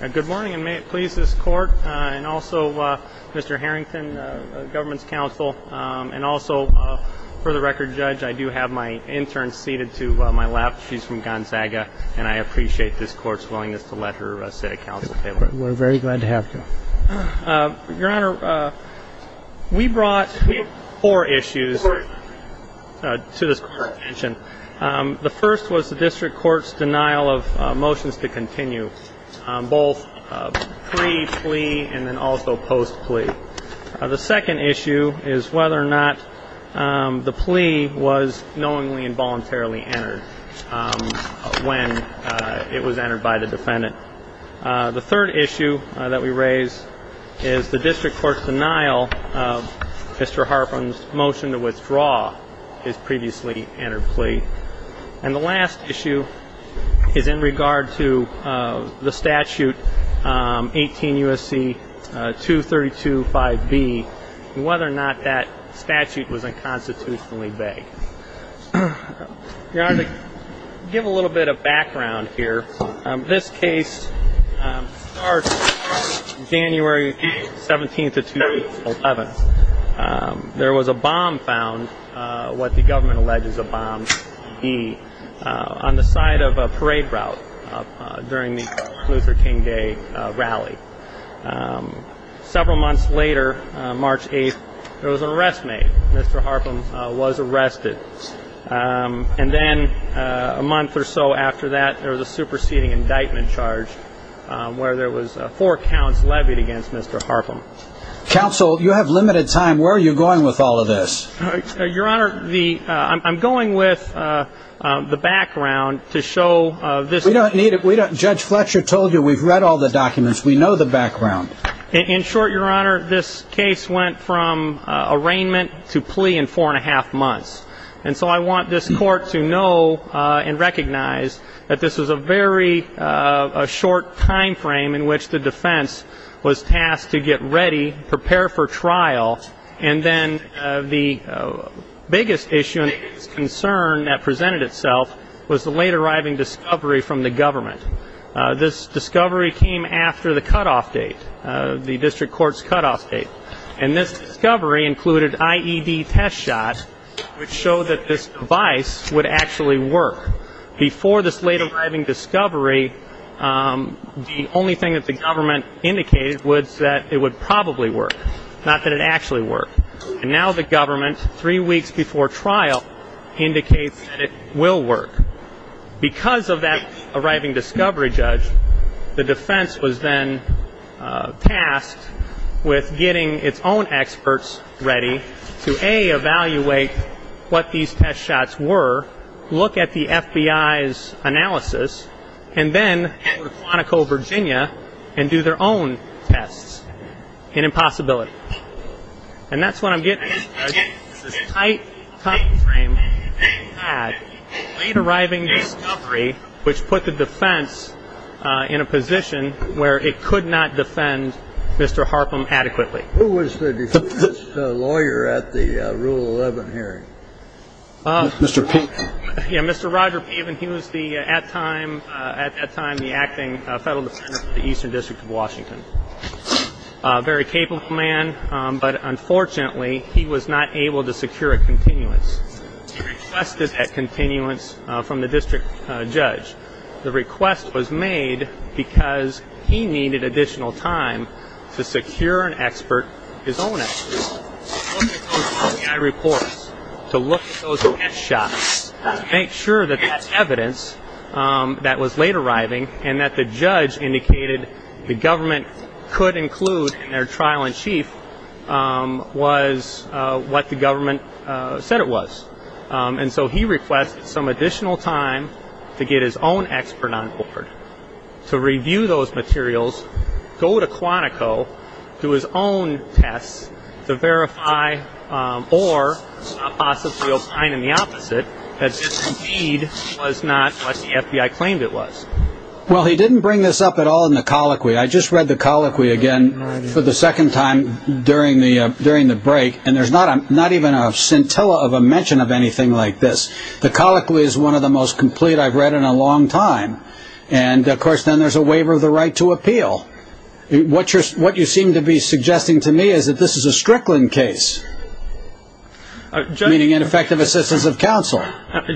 Good morning, and may it please this Court, and also Mr. Harrington, Government's Counsel, and also, for the record, Judge, I do have my intern seated to my left. She's from Gonzaga, and I appreciate this Court's willingness to let her sit at Council table. We're very glad to have you. Your Honor, we brought four issues to this Court's attention. The first was the District Court's denial of motions to continue, both pre-plea and then also post-plea. The second issue is whether or not the plea was knowingly and voluntarily entered when it was entered by the defendant. The third issue that we raise is the District Court's denial of Mr. Harpham's motion to withdraw his previously entered plea. And the last issue is in regard to the statute 18 U.S.C. 2325B and whether or not that statute was unconstitutionally vegged. Your Honor, to give a little bit of background here, this case starts January 17th of 2011. There was a bomb found, what the government alleges a bomb B, on the side of a parade route during the Luther King Day rally. Several months later, March 8th, there was an arrest made. Mr. Harpham was arrested. And then a month or so after that, there was a superseding indictment charged where there was four counts levied against Mr. Harpham. Counsel, you have limited time. Where are you going with all of this? Your Honor, I'm going with the background to show this. We don't need it. Judge Fletcher told you we've read all the documents. We know the background. In short, Your Honor, this case went from arraignment to plea in four and a half months. And so I want this Court to know and recognize that this was a very short time frame in which the defense was tasked to get ready, prepare for trial, and then the biggest issue and concern that presented itself was the late arriving discovery from the government. This discovery came after the cutoff date, the district court's cutoff date. And this discovery included IED test shots, which showed that this device would actually work. Before this late arriving discovery, the only thing that the government indicated was that it would probably work, not that it actually worked. And now the government, three weeks before trial, indicates that it will work. Because of that arriving discovery, Judge, the defense was then tasked with getting its own experts ready to, A, evaluate what these test shots were, look at the FBI's analysis, and then go to Quantico, Virginia, and do their own tests in impossibility. And that's what I'm getting at. It's this tight timeframe that the late arriving discovery, which put the defense in a position where it could not defend Mr. Harpham adequately. Who was the defense lawyer at the Rule 11 hearing? Mr. Pavin. Yeah, Mr. Roger Pavin. He was the, at that time, the acting federal defender for the Eastern District of Washington. A very capable man, but unfortunately, he was not able to secure a continuance. He requested that continuance from the district judge. The request was made because he needed additional time to secure an expert, his own expert, to look at those FBI reports, to look at those test shots, to make sure that that's evidence that was late arriving, and that the judge indicated the government could include in their trial-in-chief was what the government said it was. And so he requested some additional time to get his own expert on board, to review those materials, go to Quantico, do his own tests, to verify or possibly opine in the opposite that this indeed was not what the FBI claimed it was. Well, he didn't bring this up at all in the colloquy. I just read the colloquy again for the second time during the break, and there's not even a scintilla of a mention of anything like this. The colloquy is one of the most complete I've read in a long time. And, of course, then there's a waiver of the right to appeal. What you seem to be suggesting to me is that this is a Strickland case, meaning ineffective assistance of counsel.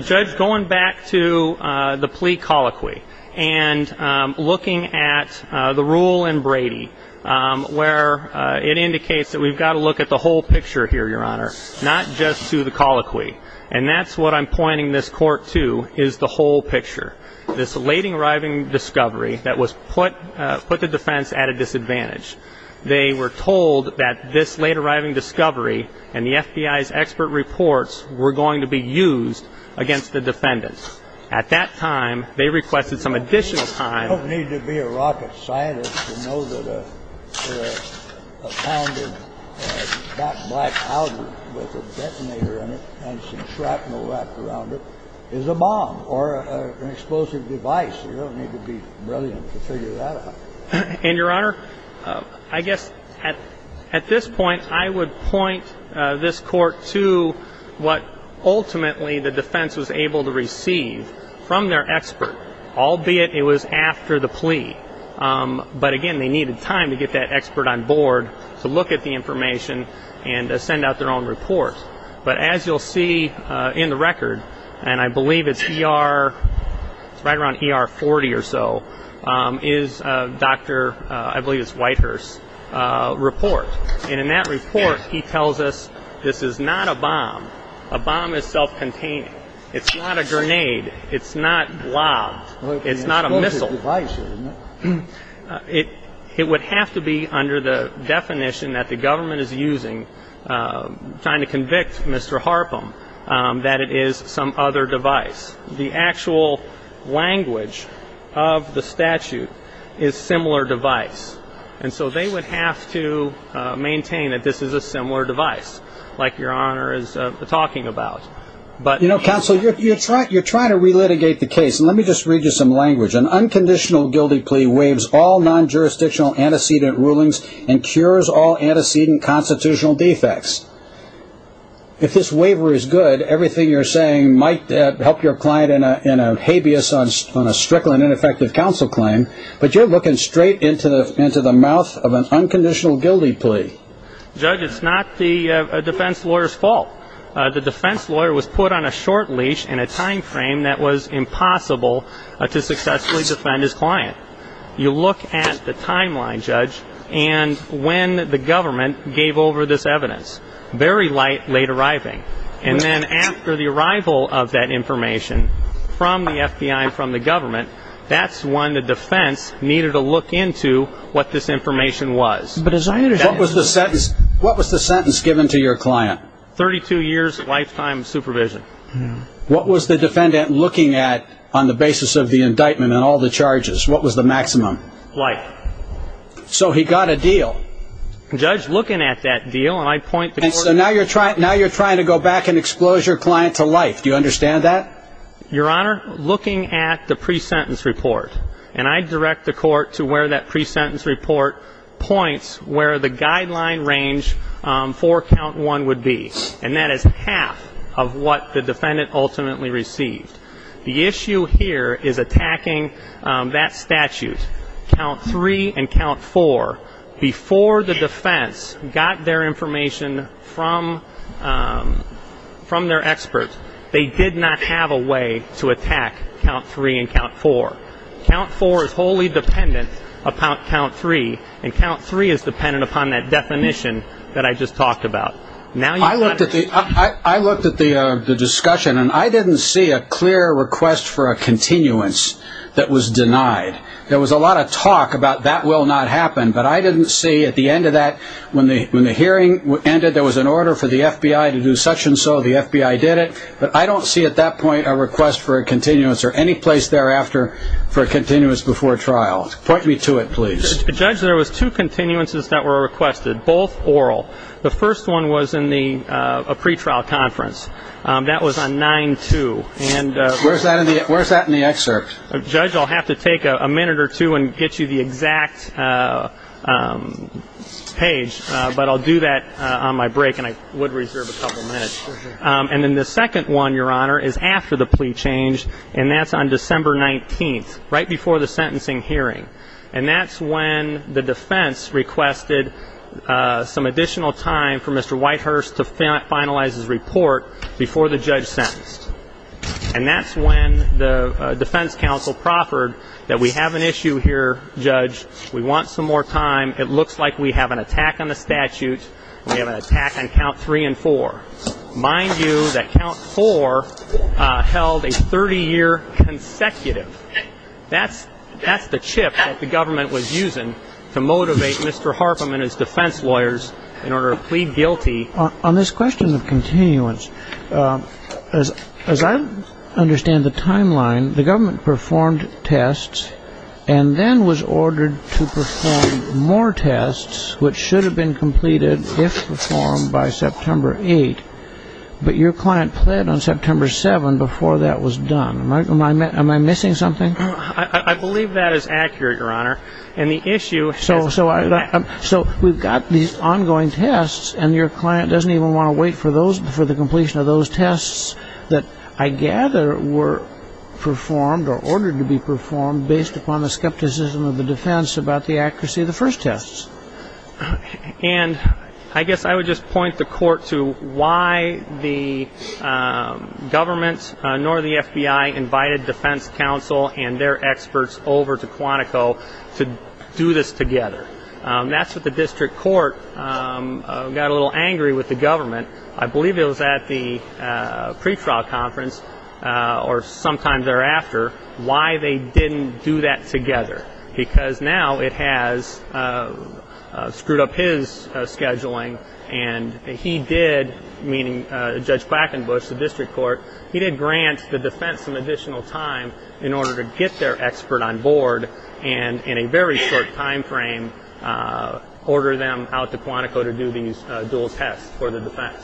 Judge, going back to the plea colloquy and looking at the rule in Brady, where it indicates that we've got to look at the whole picture here, Your Honor, not just to the colloquy. And that's what I'm pointing this court to, is the whole picture. This late arriving discovery that put the defense at a disadvantage. They were told that this late arriving discovery and the FBI's expert reports were going to be used against the defendants. At that time, they requested some additional time. You don't need to be a rocket scientist to know that a pound of black powder with a detonator in it and some shrapnel wrapped around it is a bomb or an explosive device. You don't need to be brilliant to figure that out. And, Your Honor, I guess at this point I would point this court to what ultimately the defense was able to receive from their expert, albeit it was after the plea. But, again, they needed time to get that expert on board to look at the information and send out their own report. But as you'll see in the record, and I believe it's right around ER 40 or so, is Dr. Whitehurst's report. And in that report, he tells us this is not a bomb. A bomb is self-containing. It's not a grenade. It's not lobbed. It's not a missile. It's an explosive device, isn't it? It would have to be under the definition that the government is using trying to convict Mr. Harpum that it is some other device. The actual language of the statute is similar device. And so they would have to maintain that this is a similar device, like Your Honor is talking about. You know, counsel, you're trying to relitigate the case. Let me just read you some language. An unconditional guilty plea waives all non-jurisdictional antecedent rulings and cures all antecedent constitutional defects. If this waiver is good, everything you're saying might help your client in a habeas on a strickling ineffective counsel claim. But you're looking straight into the mouth of an unconditional guilty plea. Judge, it's not the defense lawyer's fault. The defense lawyer was put on a short leash in a time frame that was impossible to successfully defend his client. You look at the timeline, Judge, and when the government gave over this evidence. Very late arriving. And then after the arrival of that information from the FBI and from the government, that's when the defense needed to look into what this information was. What was the sentence given to your client? Thirty-two years lifetime supervision. What was the defendant looking at on the basis of the indictment and all the charges? What was the maximum? Life. So he got a deal. Judge, looking at that deal, and I point the court to that. And so now you're trying to go back and expose your client to life. Do you understand that? Your Honor, looking at the pre-sentence report, and I direct the court to where that pre-sentence report points where the guideline range for count one would be. And that is half of what the defendant ultimately received. The issue here is attacking that statute. Count three and count four. Before the defense got their information from their expert, they did not have a way to attack count three and count four. Count four is wholly dependent upon count three, and count three is dependent upon that definition that I just talked about. I looked at the discussion, and I didn't see a clear request for a continuance that was denied. There was a lot of talk about that will not happen, but I didn't see at the end of that when the hearing ended there was an order for the FBI to do such and so. The FBI did it, but I don't see at that point a request for a continuance or any place thereafter for a continuance before trial. Point me to it, please. Judge, there was two continuances that were requested, both oral. The first one was in a pretrial conference. That was on 9-2. Where's that in the excerpt? Judge, I'll have to take a minute or two and get you the exact page, but I'll do that on my break, and I would reserve a couple minutes. And then the second one, Your Honor, is after the plea change, and that's on December 19th, right before the sentencing hearing. And that's when the defense requested some additional time for Mr. Whitehurst to finalize his report before the judge sentenced. And that's when the defense counsel proffered that we have an issue here, Judge. We want some more time. It looks like we have an attack on the statute. We have an attack on count three and four. Mind you that count four held a 30-year consecutive. That's the chip that the government was using to motivate Mr. Harpham and his defense lawyers in order to plead guilty. On this question of continuance, as I understand the timeline, the government performed tests and then was ordered to perform more tests, which should have been completed if performed by September 8th. But your client pled on September 7th before that was done. Am I missing something? I believe that is accurate, Your Honor. And the issue is that we've got these ongoing tests, and your client doesn't even want to wait for the completion of those tests that I gather were performed or ordered to be performed based upon the skepticism of the defense about the accuracy of the first tests. And I guess I would just point the Court to why the government nor the FBI invited defense counsel and their experts over to Quantico to do this together. That's what the district court got a little angry with the government. I believe it was at the pre-trial conference or sometime thereafter why they didn't do that together, because now it has screwed up his scheduling and he did, meaning Judge Quackenbush, the district court, he did grant the defense some additional time in order to get their expert on board and in a very short time frame order them out to Quantico to do these dual tests for the defense.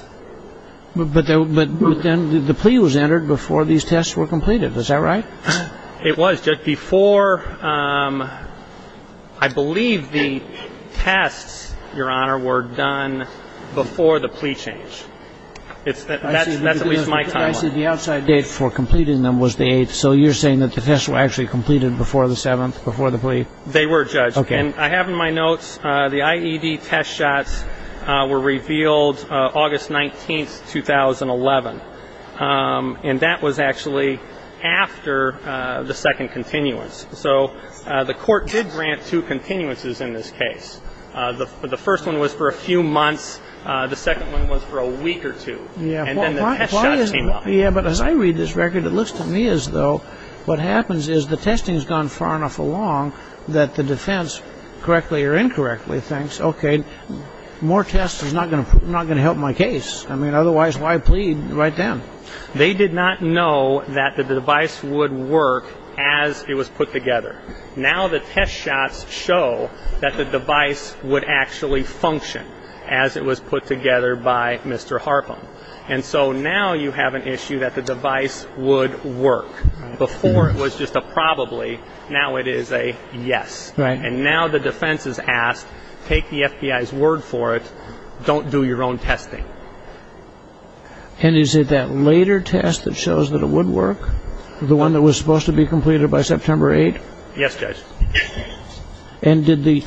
But then the plea was entered before these tests were completed. Is that right? It was, Judge, before I believe the tests, Your Honor, were done before the plea change. That's at least my timeline. I see the outside date for completing them was the 8th, so you're saying that the tests were actually completed before the 7th, before the plea? They were, Judge. And I have in my notes the IED test shots were revealed August 19, 2011. And that was actually after the second continuance. So the Court did grant two continuances in this case. The first one was for a few months. The second one was for a week or two. And then the test shots came up. Yeah, but as I read this record, it looks to me as though what happens is the testing has gone far enough along that the defense, correctly or incorrectly, thinks, okay, more tests is not going to help my case. I mean, otherwise why plead right then? They did not know that the device would work as it was put together. Now the test shots show that the device would actually function as it was put together by Mr. Harpham. And so now you have an issue that the device would work. Before it was just a probably, now it is a yes. And now the defense is asked, take the FBI's word for it, don't do your own testing. And is it that later test that shows that it would work, the one that was supposed to be completed by September 8th? Yes, Judge. And did the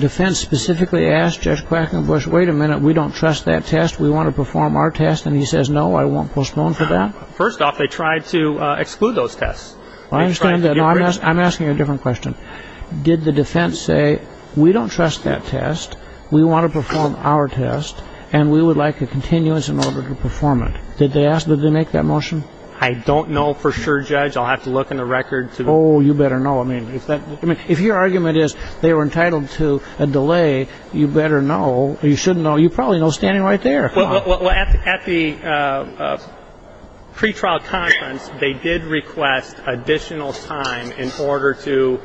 defense specifically ask Judge Quackenbush, wait a minute, we don't trust that test, we want to perform our test, and he says, no, I won't postpone for that? First off, they tried to exclude those tests. I understand that. I'm asking a different question. Did the defense say, we don't trust that test, we want to perform our test, and we would like a continuance in order to perform it? Did they make that motion? I don't know for sure, Judge. I'll have to look in the record. Oh, you better know. I mean, if your argument is they were entitled to a delay, you better know, or you shouldn't know, you probably know standing right there. Well, at the pretrial conference, they did request additional time in order to,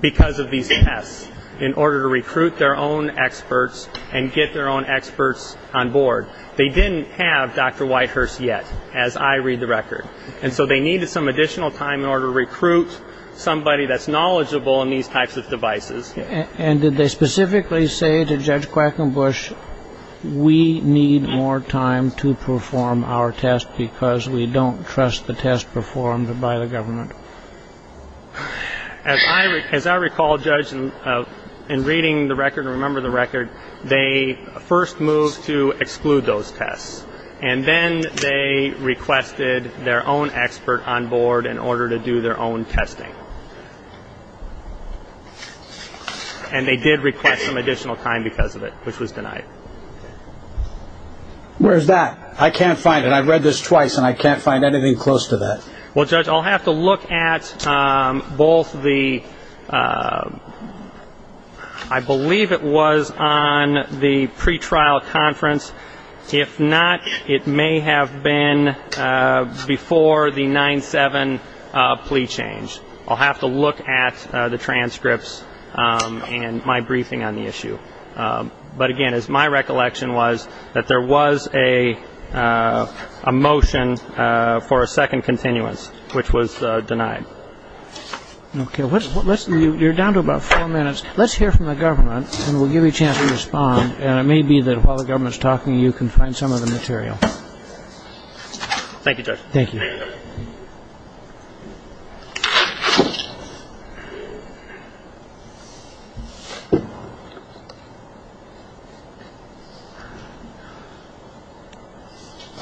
because of these tests, in order to recruit their own experts and get their own experts on board. They didn't have Dr. Whitehurst yet, as I read the record. And so they needed some additional time in order to recruit somebody that's knowledgeable in these types of devices. And did they specifically say to Judge Quackenbush, we need more time to perform our test because we don't trust the test performed by the government? As I recall, Judge, in reading the record and remembering the record, they first moved to exclude those tests, and then they requested their own expert on board in order to do their own testing. And they did request some additional time because of it, which was denied. Where's that? I can't find it. I read this twice, and I can't find anything close to that. Well, Judge, I'll have to look at both the, I believe it was on the pretrial conference. If not, it may have been before the 9-7 plea change. I'll have to look at the transcripts and my briefing on the issue. But, again, my recollection was that there was a motion for a second continuance, which was denied. Okay. You're down to about four minutes. Let's hear from the government, and we'll give you a chance to respond. And it may be that while the government is talking, you can find some of the material. Thank you, Judge. Thank you.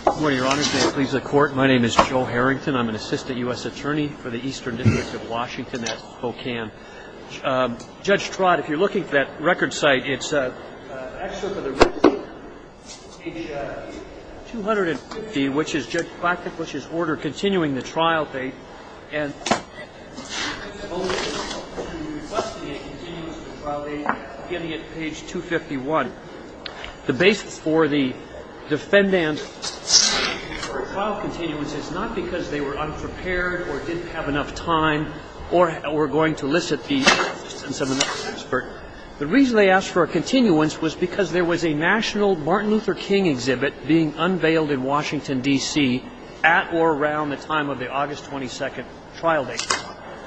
Good morning, Your Honors. May it please the Court, my name is Joe Harrington. I'm an assistant U.S. attorney for the Eastern District of Washington at Spokane. And, Judge Trott, if you're looking at that record site, it's actually for the record page 250, which is Order Continuing the Trial Date. And the motion is to investigate continuance of the trial date, beginning at page 251. The basis for the defendant's motion for a trial continuance is not because they were unprepared or didn't have enough time or were going to elicit the absence of an expert. The reason they asked for a continuance was because there was a national Martin Luther King exhibit being unveiled in Washington, D.C., at or around the time of the August 22nd trial date.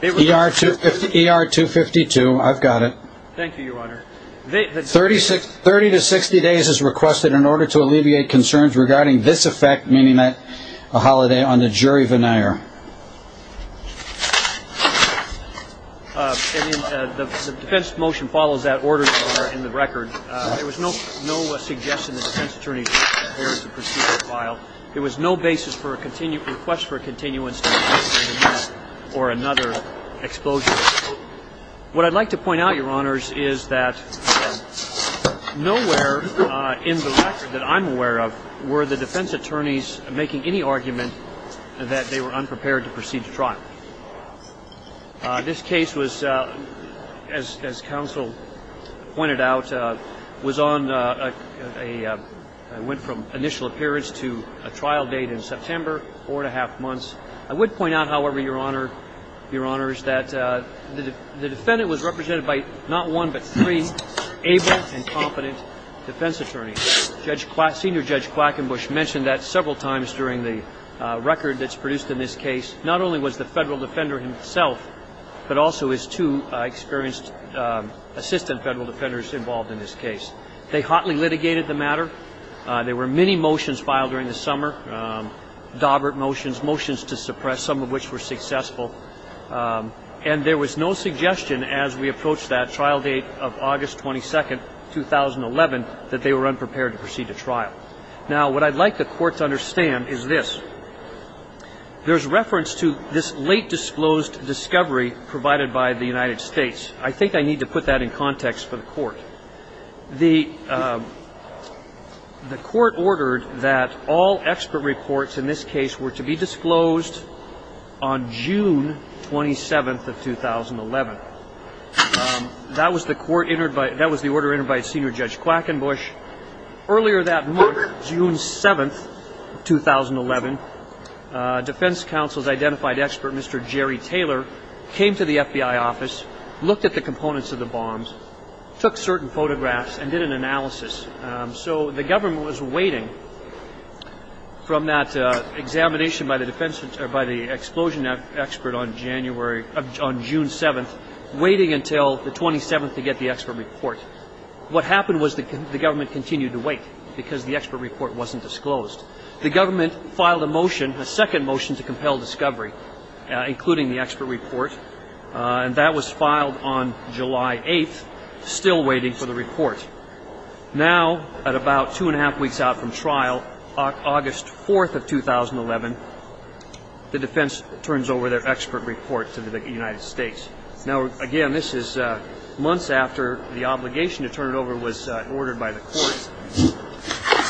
ER-252, I've got it. Thank you, Your Honor. Thirty to sixty days is requested in order to alleviate concerns regarding this effect, meaning that a holiday on the jury veneer. The defense motion follows that order in the record. There was no suggestion that the defense attorney should prepare the procedural file. There was no basis for a request for a continuance or another exposure. What I'd like to point out, Your Honors, is that, again, nowhere in the record that I'm aware of were the defense attorneys making any argument that they were unprepared to proceed to trial. This case was, as counsel pointed out, was on a, went from initial appearance to a trial date in September, four and a half months. I would point out, however, Your Honor, Your Honors, that the defendant was represented by not one but three able and competent defense attorneys. Senior Judge Quackenbush mentioned that several times during the record that's produced in this case. Not only was the federal defender himself, but also his two experienced assistant federal defenders involved in this case. They hotly litigated the matter. There were many motions filed during the summer, Dawbert motions, motions to suppress, some of which were successful. And there was no suggestion as we approached that trial date of August 22, 2011, that they were unprepared to proceed to trial. Now, what I'd like the Court to understand is this. There's reference to this late disclosed discovery provided by the United States. I think I need to put that in context for the Court. The Court ordered that all expert reports in this case were to be disclosed on June 27, 2011. That was the order entered by Senior Judge Quackenbush. Earlier that month, June 7, 2011, Defense Counsel's identified expert, Mr. Jerry Taylor, came to the FBI office, looked at the components of the bombs, took certain photographs, and did an analysis. So the government was waiting from that examination by the explosion expert on June 7, waiting until the 27th to get the expert report. What happened was the government continued to wait because the expert report wasn't disclosed. The government filed a motion, a second motion, to compel discovery, including the expert report. And that was filed on July 8, still waiting for the report. Now, at about two and a half weeks out from trial, August 4, 2011, the defense turns over their expert report to the United States. Now, again, this is months after the obligation to turn it over was ordered by the Court.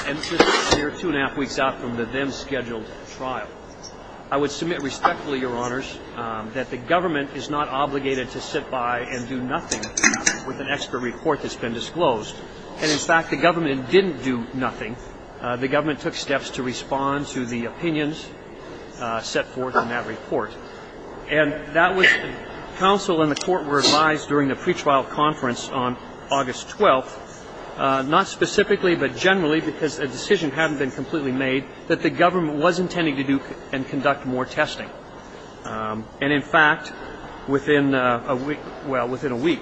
And this was a mere two and a half weeks out from the then-scheduled trial. I would submit respectfully, Your Honors, that the government is not obligated to sit by and do nothing with an expert report that's been disclosed. And, in fact, the government didn't do nothing. The government took steps to respond to the opinions set forth in that report. And that was counsel and the Court were advised during the pretrial conference on August 12, not specifically but generally because a decision hadn't been completely made, that the government was intending to do and conduct more testing. And, in fact, within a week, well, within a week,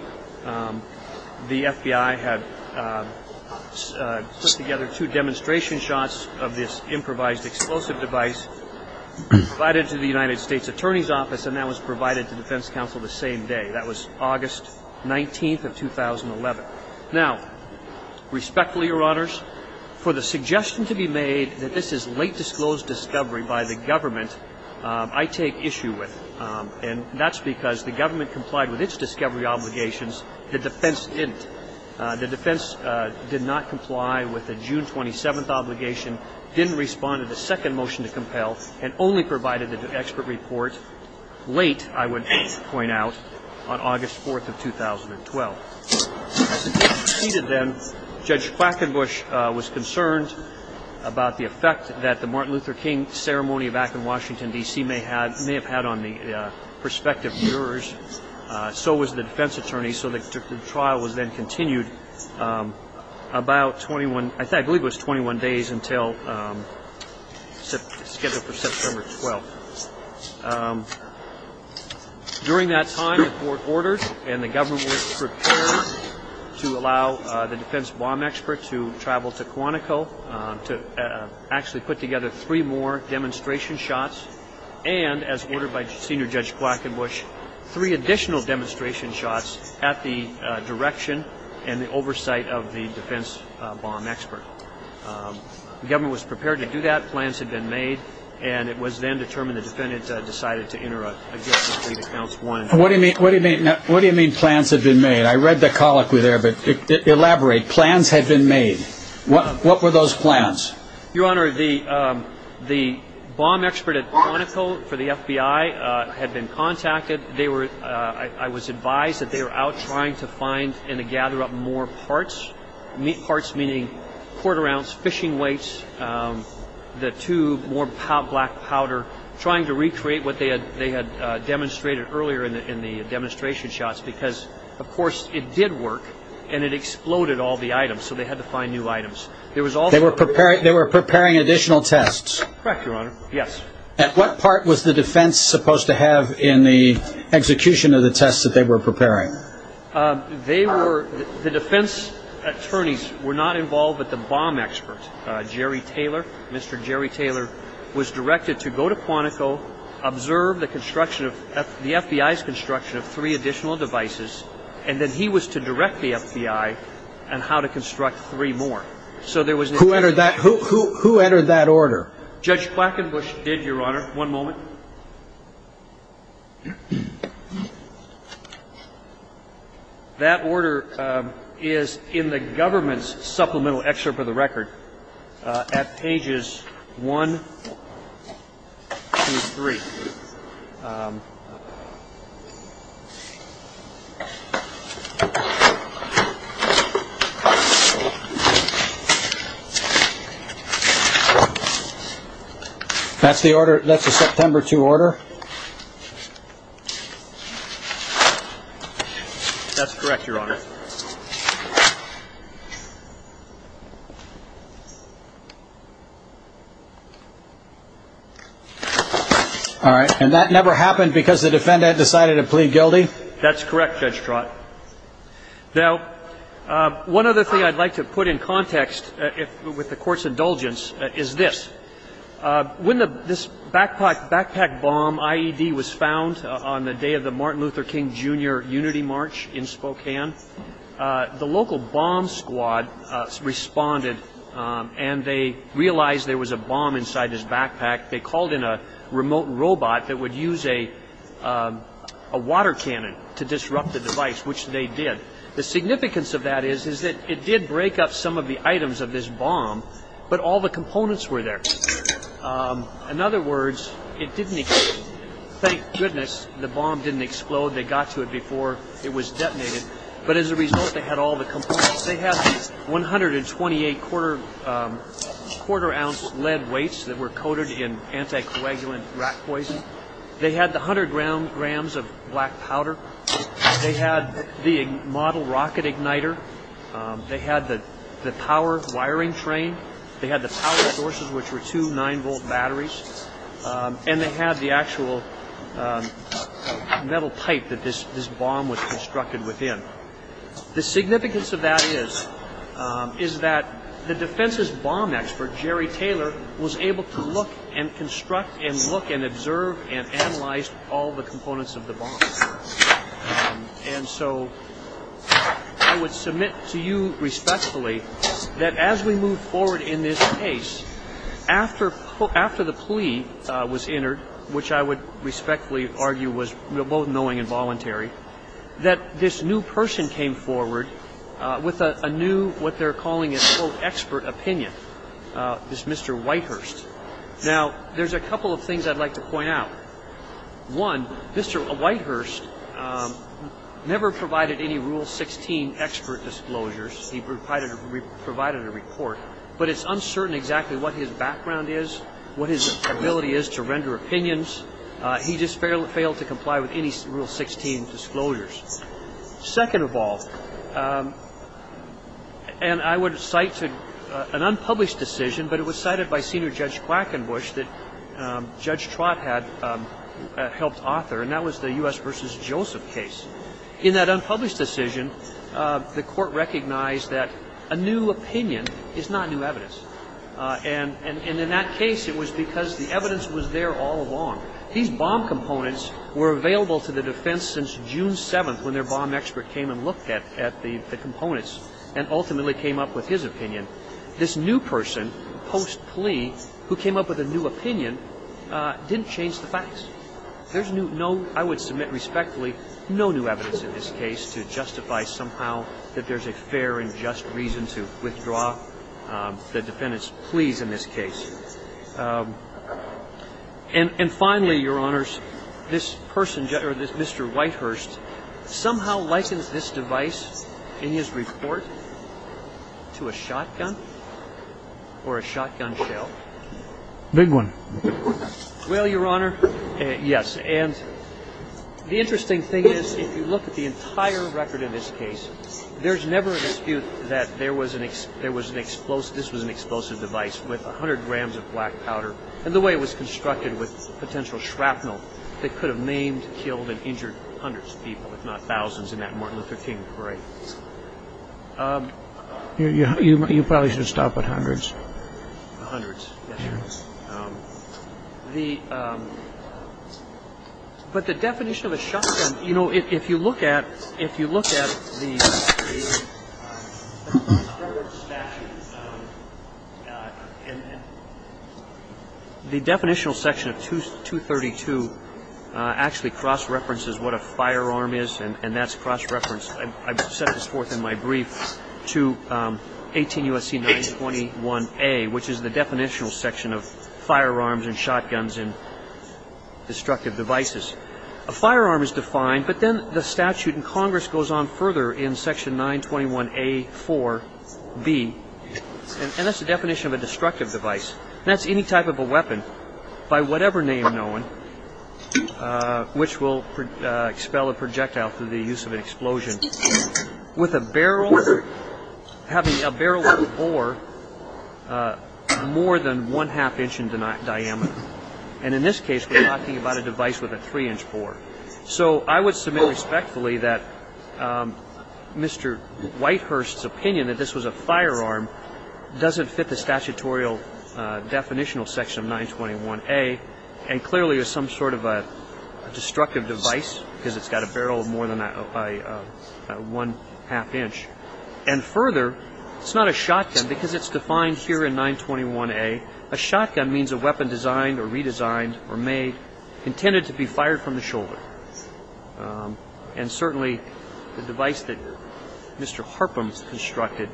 the FBI had put together two demonstration shots of this improvised explosive device provided to the United States Attorney's Office, and that was provided to defense counsel the same day. That was August 19th of 2011. Now, respectfully, Your Honors, for the suggestion to be made that this is late disclosed discovery by the government, I take issue with. And that's because the government complied with its discovery obligations. The defense didn't. The defense did not comply with the June 27th obligation, didn't respond to the second motion to compel, and only provided the expert report late, I would point out, on August 4th of 2012. As it proceeded then, Judge Quackenbush was concerned about the effect that the Martin Luther King Ceremony back in Washington, D.C. may have had on the prospective jurors. So was the defense attorney. So the trial was then continued about 21, I believe it was 21 days until scheduled for September 12th. During that time, the court ordered and the government was prepared to allow the defense bomb expert to travel to Quantico to actually put together three more demonstration shots, and, as ordered by Senior Judge Quackenbush, three additional demonstration shots at the direction and the oversight of the defense bomb expert. The government was prepared to do that. Plans had been made. And it was then determined the defendant decided to enter a guilty plea to Counsel 1. What do you mean plans had been made? I read the colloquy there, but elaborate. Plans had been made. What were those plans? Your Honor, the bomb expert at Quantico for the FBI had been contacted. I was advised that they were out trying to find and to gather up more parts, parts meaning quarter-ounce fishing weights, the tube, more black powder, trying to recreate what they had demonstrated earlier in the demonstration shots because, of course, it did work and it exploded all the items, so they had to find new items. They were preparing additional tests. Correct, Your Honor. Yes. At what part was the defense supposed to have in the execution of the tests that they were preparing? The defense attorneys were not involved but the bomb expert, Jerry Taylor. Mr. Jerry Taylor was directed to go to Quantico, observe the FBI's construction of three additional devices, and then he was to direct the FBI on how to construct three more. Who entered that order? Judge Quackenbush did, Your Honor. One moment. That order is in the government's supplemental excerpt of the record at pages one through three. That's the order. That's a September 2 order. That's correct, Your Honor. All right. And that never happened because the defendant decided to plead guilty? That's correct, Judge Trott. Now, one other thing I'd like to put in context with the Court's indulgence is this. When this backpack bomb IED was found on the day of the Martin Luther King Jr. unity march in Spokane, the local bomb squad responded and they realized there was a bomb inside his backpack. They called in a remote robot that would use a water cannon to disrupt the device, which they did. The significance of that is that it did break up some of the items of this bomb, but all the components were there. In other words, it didn't explode. Thank goodness the bomb didn't explode. They got to it before it was detonated. But as a result, they had all the components. They had 128 quarter-ounce lead weights that were coated in anticoagulant rat poison. They had the 100 grams of black powder. They had the model rocket igniter. They had the power wiring train. They had the power sources, which were two 9-volt batteries. And they had the actual metal pipe that this bomb was constructed within. The significance of that is that the defense's bomb expert, Jerry Taylor, was able to look and construct and look and observe and analyze all the components of the bomb. And so I would submit to you respectfully that as we move forward in this case, after the plea was entered, which I would respectfully argue was both knowing and voluntary, that this new person came forward with a new what they're calling an expert opinion, this Mr. Whitehurst. Now, there's a couple of things I'd like to point out. One, Mr. Whitehurst never provided any Rule 16 expert disclosures. He provided a report. But it's uncertain exactly what his background is, what his ability is to render opinions. He just failed to comply with any Rule 16 disclosures. Second of all, and I would cite an unpublished decision, but it was cited by Senior Judge Quackenbush that Judge Trott had helped author, and that was the U.S. v. Joseph case. In that unpublished decision, the court recognized that a new opinion is not new evidence. And in that case, it was because the evidence was there all along. These bomb components were available to the defense since June 7th, when their bomb expert came and looked at the components and ultimately came up with his opinion. This new person post-plea who came up with a new opinion didn't change the facts. There's no, I would submit respectfully, no new evidence in this case to justify somehow that there's a fair and just reason to withdraw the defendant's pleas in this case. And finally, Your Honors, this person, or this Mr. Whitehurst, somehow likens this device in his report to a shotgun or a shotgun shell. Big one. Well, Your Honor, yes. And the interesting thing is, if you look at the entire record in this case, there's never a dispute that this was an explosive device with 100 grams of black powder and the way it was constructed with potential shrapnel that could have maimed, killed, and injured hundreds of people, if not thousands, in that Martin Luther King parade. You probably should stop at hundreds. Hundreds, yes. But the definition of a shotgun, you know, if you look at the definitional section of 232 actually cross-references what a firearm is, and that's cross-referenced, I've set this forth in my brief, to 18 U.S.C. 921-A, which is the definitional section of firearms and shotguns and destructive devices. A firearm is defined, but then the statute in Congress goes on further in section 921-A-4-B, and that's the definition of a destructive device. That's any type of a weapon, by whatever name known, which will expel a projectile through the use of an explosion, with a barrel, having a barrel bore more than one-half inch in diameter. And in this case, we're talking about a device with a three-inch bore. So I would submit respectfully that Mr. Whitehurst's opinion that this was a firearm doesn't fit the statutorial definitional section of 921-A, and clearly is some sort of a destructive device because it's got a barrel of more than one-half inch. And further, it's not a shotgun because it's defined here in 921-A. A shotgun means a weapon designed or redesigned or made intended to be fired from the shoulder. And certainly, the device that Mr. Harpum constructed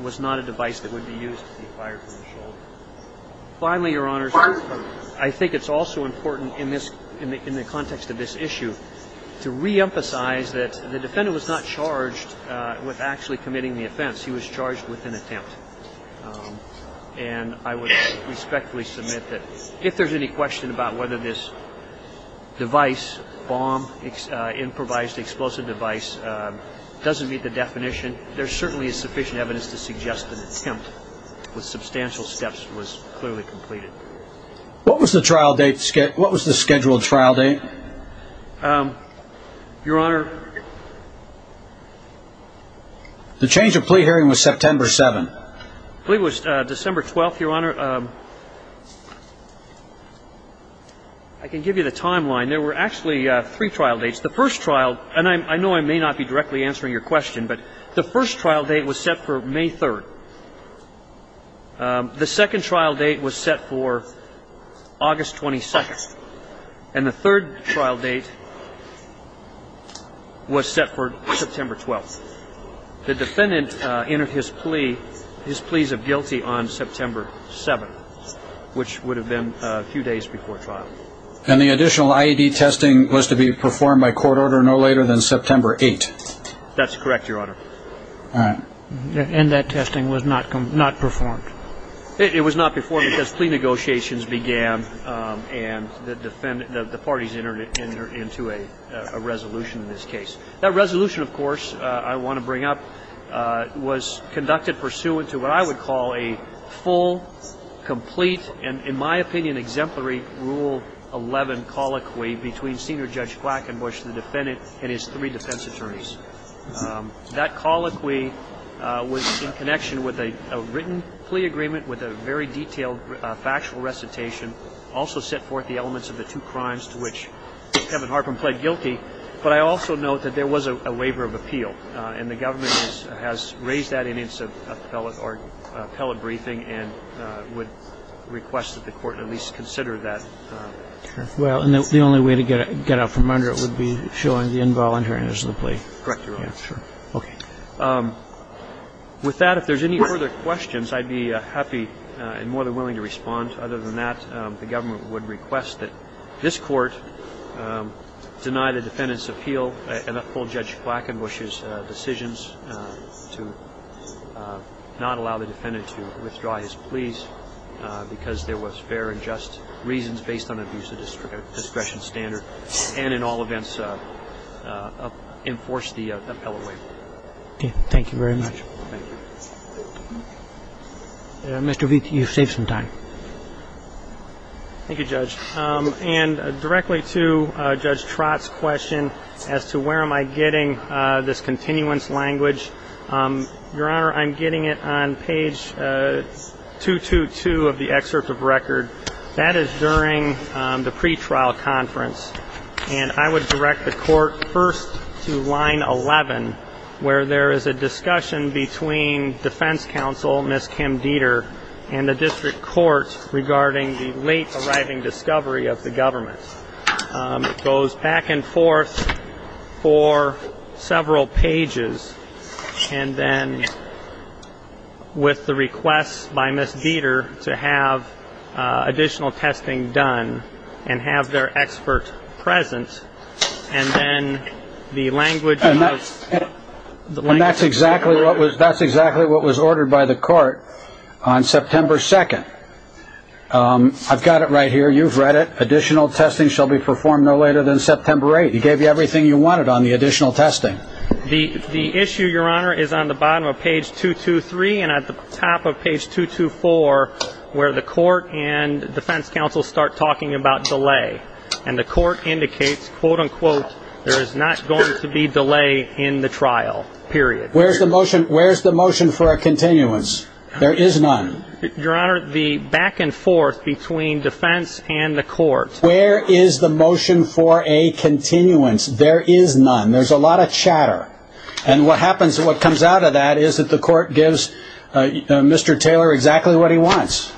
was not a device that would be used to be fired from the shoulder. Finally, Your Honors, I think it's also important in this, in the context of this issue, to reemphasize that the defendant was not charged with actually committing the offense. He was charged with an attempt. And I would respectfully submit that if there's any question about whether this device bomb improvised explosive device doesn't meet the definition, there certainly is sufficient evidence to suggest that an attempt with substantial steps was clearly completed. What was the scheduled trial date? Your Honor? The change of plea hearing was September 7th. The plea was December 12th, Your Honor. Your Honor, I can give you the timeline. There were actually three trial dates. The first trial, and I know I may not be directly answering your question, but the first trial date was set for May 3rd. The second trial date was set for August 22nd. And the third trial date was set for September 12th. The defendant entered his plea, his pleas of guilty, on September 7th, which would have been a few days before trial. And the additional IED testing was to be performed by court order no later than September 8th? That's correct, Your Honor. All right. And that testing was not performed? It was not performed because plea negotiations began and the parties entered into a resolution in this case. That resolution, of course, I want to bring up, was conducted pursuant to what I would call a full, complete, and in my opinion exemplary Rule 11 colloquy between Senior Judge Quackenbush, the defendant, and his three defense attorneys. That colloquy was in connection with a written plea agreement with a very detailed factual recitation, also set forth the elements of the two crimes to which Kevin Harpin pled guilty. But I also note that there was a waiver of appeal, and the government has raised that in its appellate briefing and would request that the court at least consider that. Well, the only way to get out from under it would be showing the involuntariness of the plea. Correct, Your Honor. Okay. With that, if there's any further questions, I'd be happy and more than willing to respond. Other than that, the government would request that this Court deny the defendant's appeal and uphold Judge Quackenbush's decisions to not allow the defendant to withdraw his pleas because there was fair and just reasons based on abuse of discretion standard, and in all events, enforce the appellate waiver. Okay. Thank you very much. Thank you. Mr. Witte, you've saved some time. Thank you, Judge. And directly to Judge Trott's question as to where am I getting this continuance language, Your Honor, I'm getting it on page 222 of the excerpt of record. That is during the pretrial conference, and I would direct the Court first to line 11, where there is a discussion between defense counsel, Ms. Kim Dieter, and the district court regarding the late arriving discovery of the government. It goes back and forth for several pages, and then with the request by Ms. Dieter to have additional testing done and have their expert present, and then the language of the court. And that's exactly what was ordered by the court on September 2nd. I've got it right here. You've read it. Additional testing shall be performed no later than September 8th. He gave you everything you wanted on the additional testing. The issue, Your Honor, is on the bottom of page 223 and at the top of page 224, where the court and defense counsel start talking about delay, and the court indicates, quote, unquote, there is not going to be delay in the trial, period. Where's the motion for a continuance? There is none. Your Honor, the back and forth between defense and the court. Where is the motion for a continuance? There is none. There's a lot of chatter. And what comes out of that is that the court gives Mr. Taylor exactly what he wants.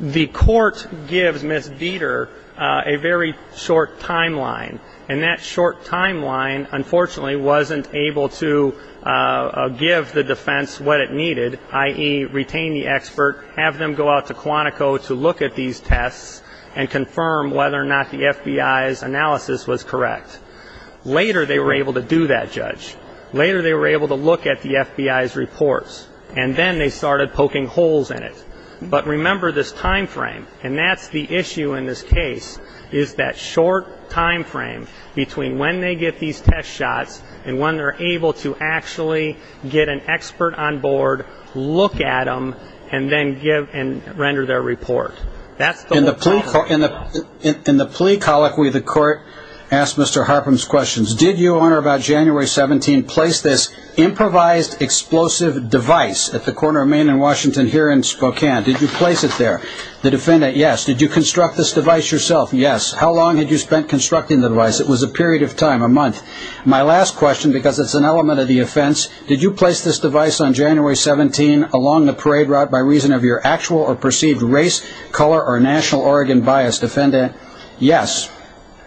The court gives Ms. Dieter a very short timeline, and that short timeline unfortunately wasn't able to give the defense what it needed, i.e., retain the expert, have them go out to Quantico to look at these tests and confirm whether or not the FBI's analysis was correct. Later they were able to do that, Judge. Later they were able to look at the FBI's reports. And then they started poking holes in it. But remember this timeframe, and that's the issue in this case, is that short timeframe between when they get these test shots and when they're able to actually get an expert on board, look at them, and then render their report. In the plea colloquy, the court asked Mr. Harpum's questions. Did you, Honor, about January 17, place this improvised explosive device at the corner of Maine and Washington here in Spokane? Did you place it there? The defendant, yes. Did you construct this device yourself? Yes. How long had you spent constructing the device? It was a period of time, a month. My last question, because it's an element of the offense, did you place this device on January 17 along the parade route by reason of your actual or perceived race, color, or national Oregon bias? Defendant, yes.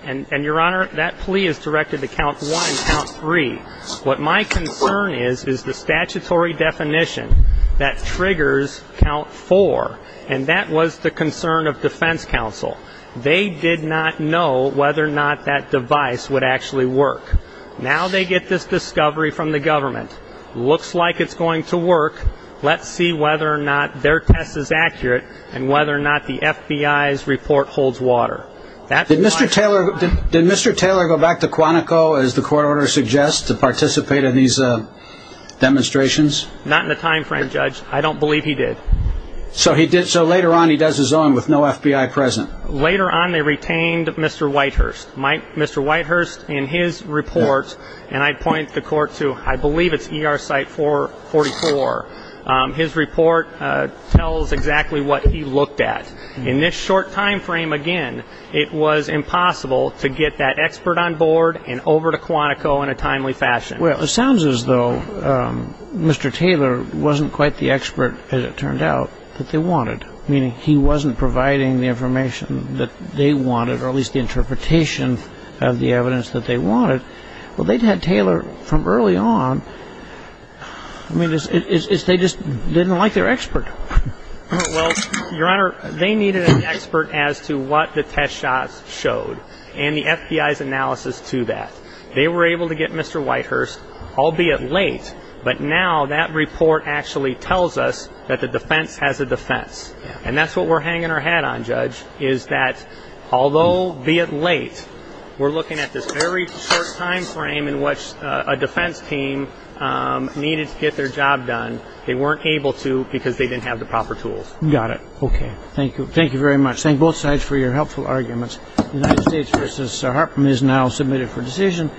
And, Your Honor, that plea is directed to count one, count three. What my concern is is the statutory definition that triggers count four, and that was the concern of defense counsel. They did not know whether or not that device would actually work. Now they get this discovery from the government. Looks like it's going to work. Let's see whether or not their test is accurate and whether or not the FBI's report holds water. Did Mr. Taylor go back to Quantico, as the court order suggests, to participate in these demonstrations? Not in the time frame, Judge. I don't believe he did. So later on he does his own with no FBI present? Later on they retained Mr. Whitehurst. Mr. Whitehurst, in his report, and I'd point the court to, I believe it's ER site 444, his report tells exactly what he looked at. In this short time frame, again, it was impossible to get that expert on board and over to Quantico in a timely fashion. Well, it sounds as though Mr. Taylor wasn't quite the expert, as it turned out, that they wanted, meaning he wasn't providing the information that they wanted, or at least the interpretation of the evidence that they wanted. Well, they'd had Taylor from early on. I mean, they just didn't like their expert. Well, Your Honor, they needed an expert as to what the test shots showed and the FBI's analysis to that. They were able to get Mr. Whitehurst, albeit late, but now that report actually tells us that the defense has a defense. And that's what we're hanging our hat on, Judge, is that although, be it late, we're looking at this very short time frame in which a defense team needed to get their job done. They weren't able to because they didn't have the proper tools. Got it. Okay. Thank you. Thank you very much. Thank both sides for your helpful arguments. The United States v. Hartman is now submitted for decision.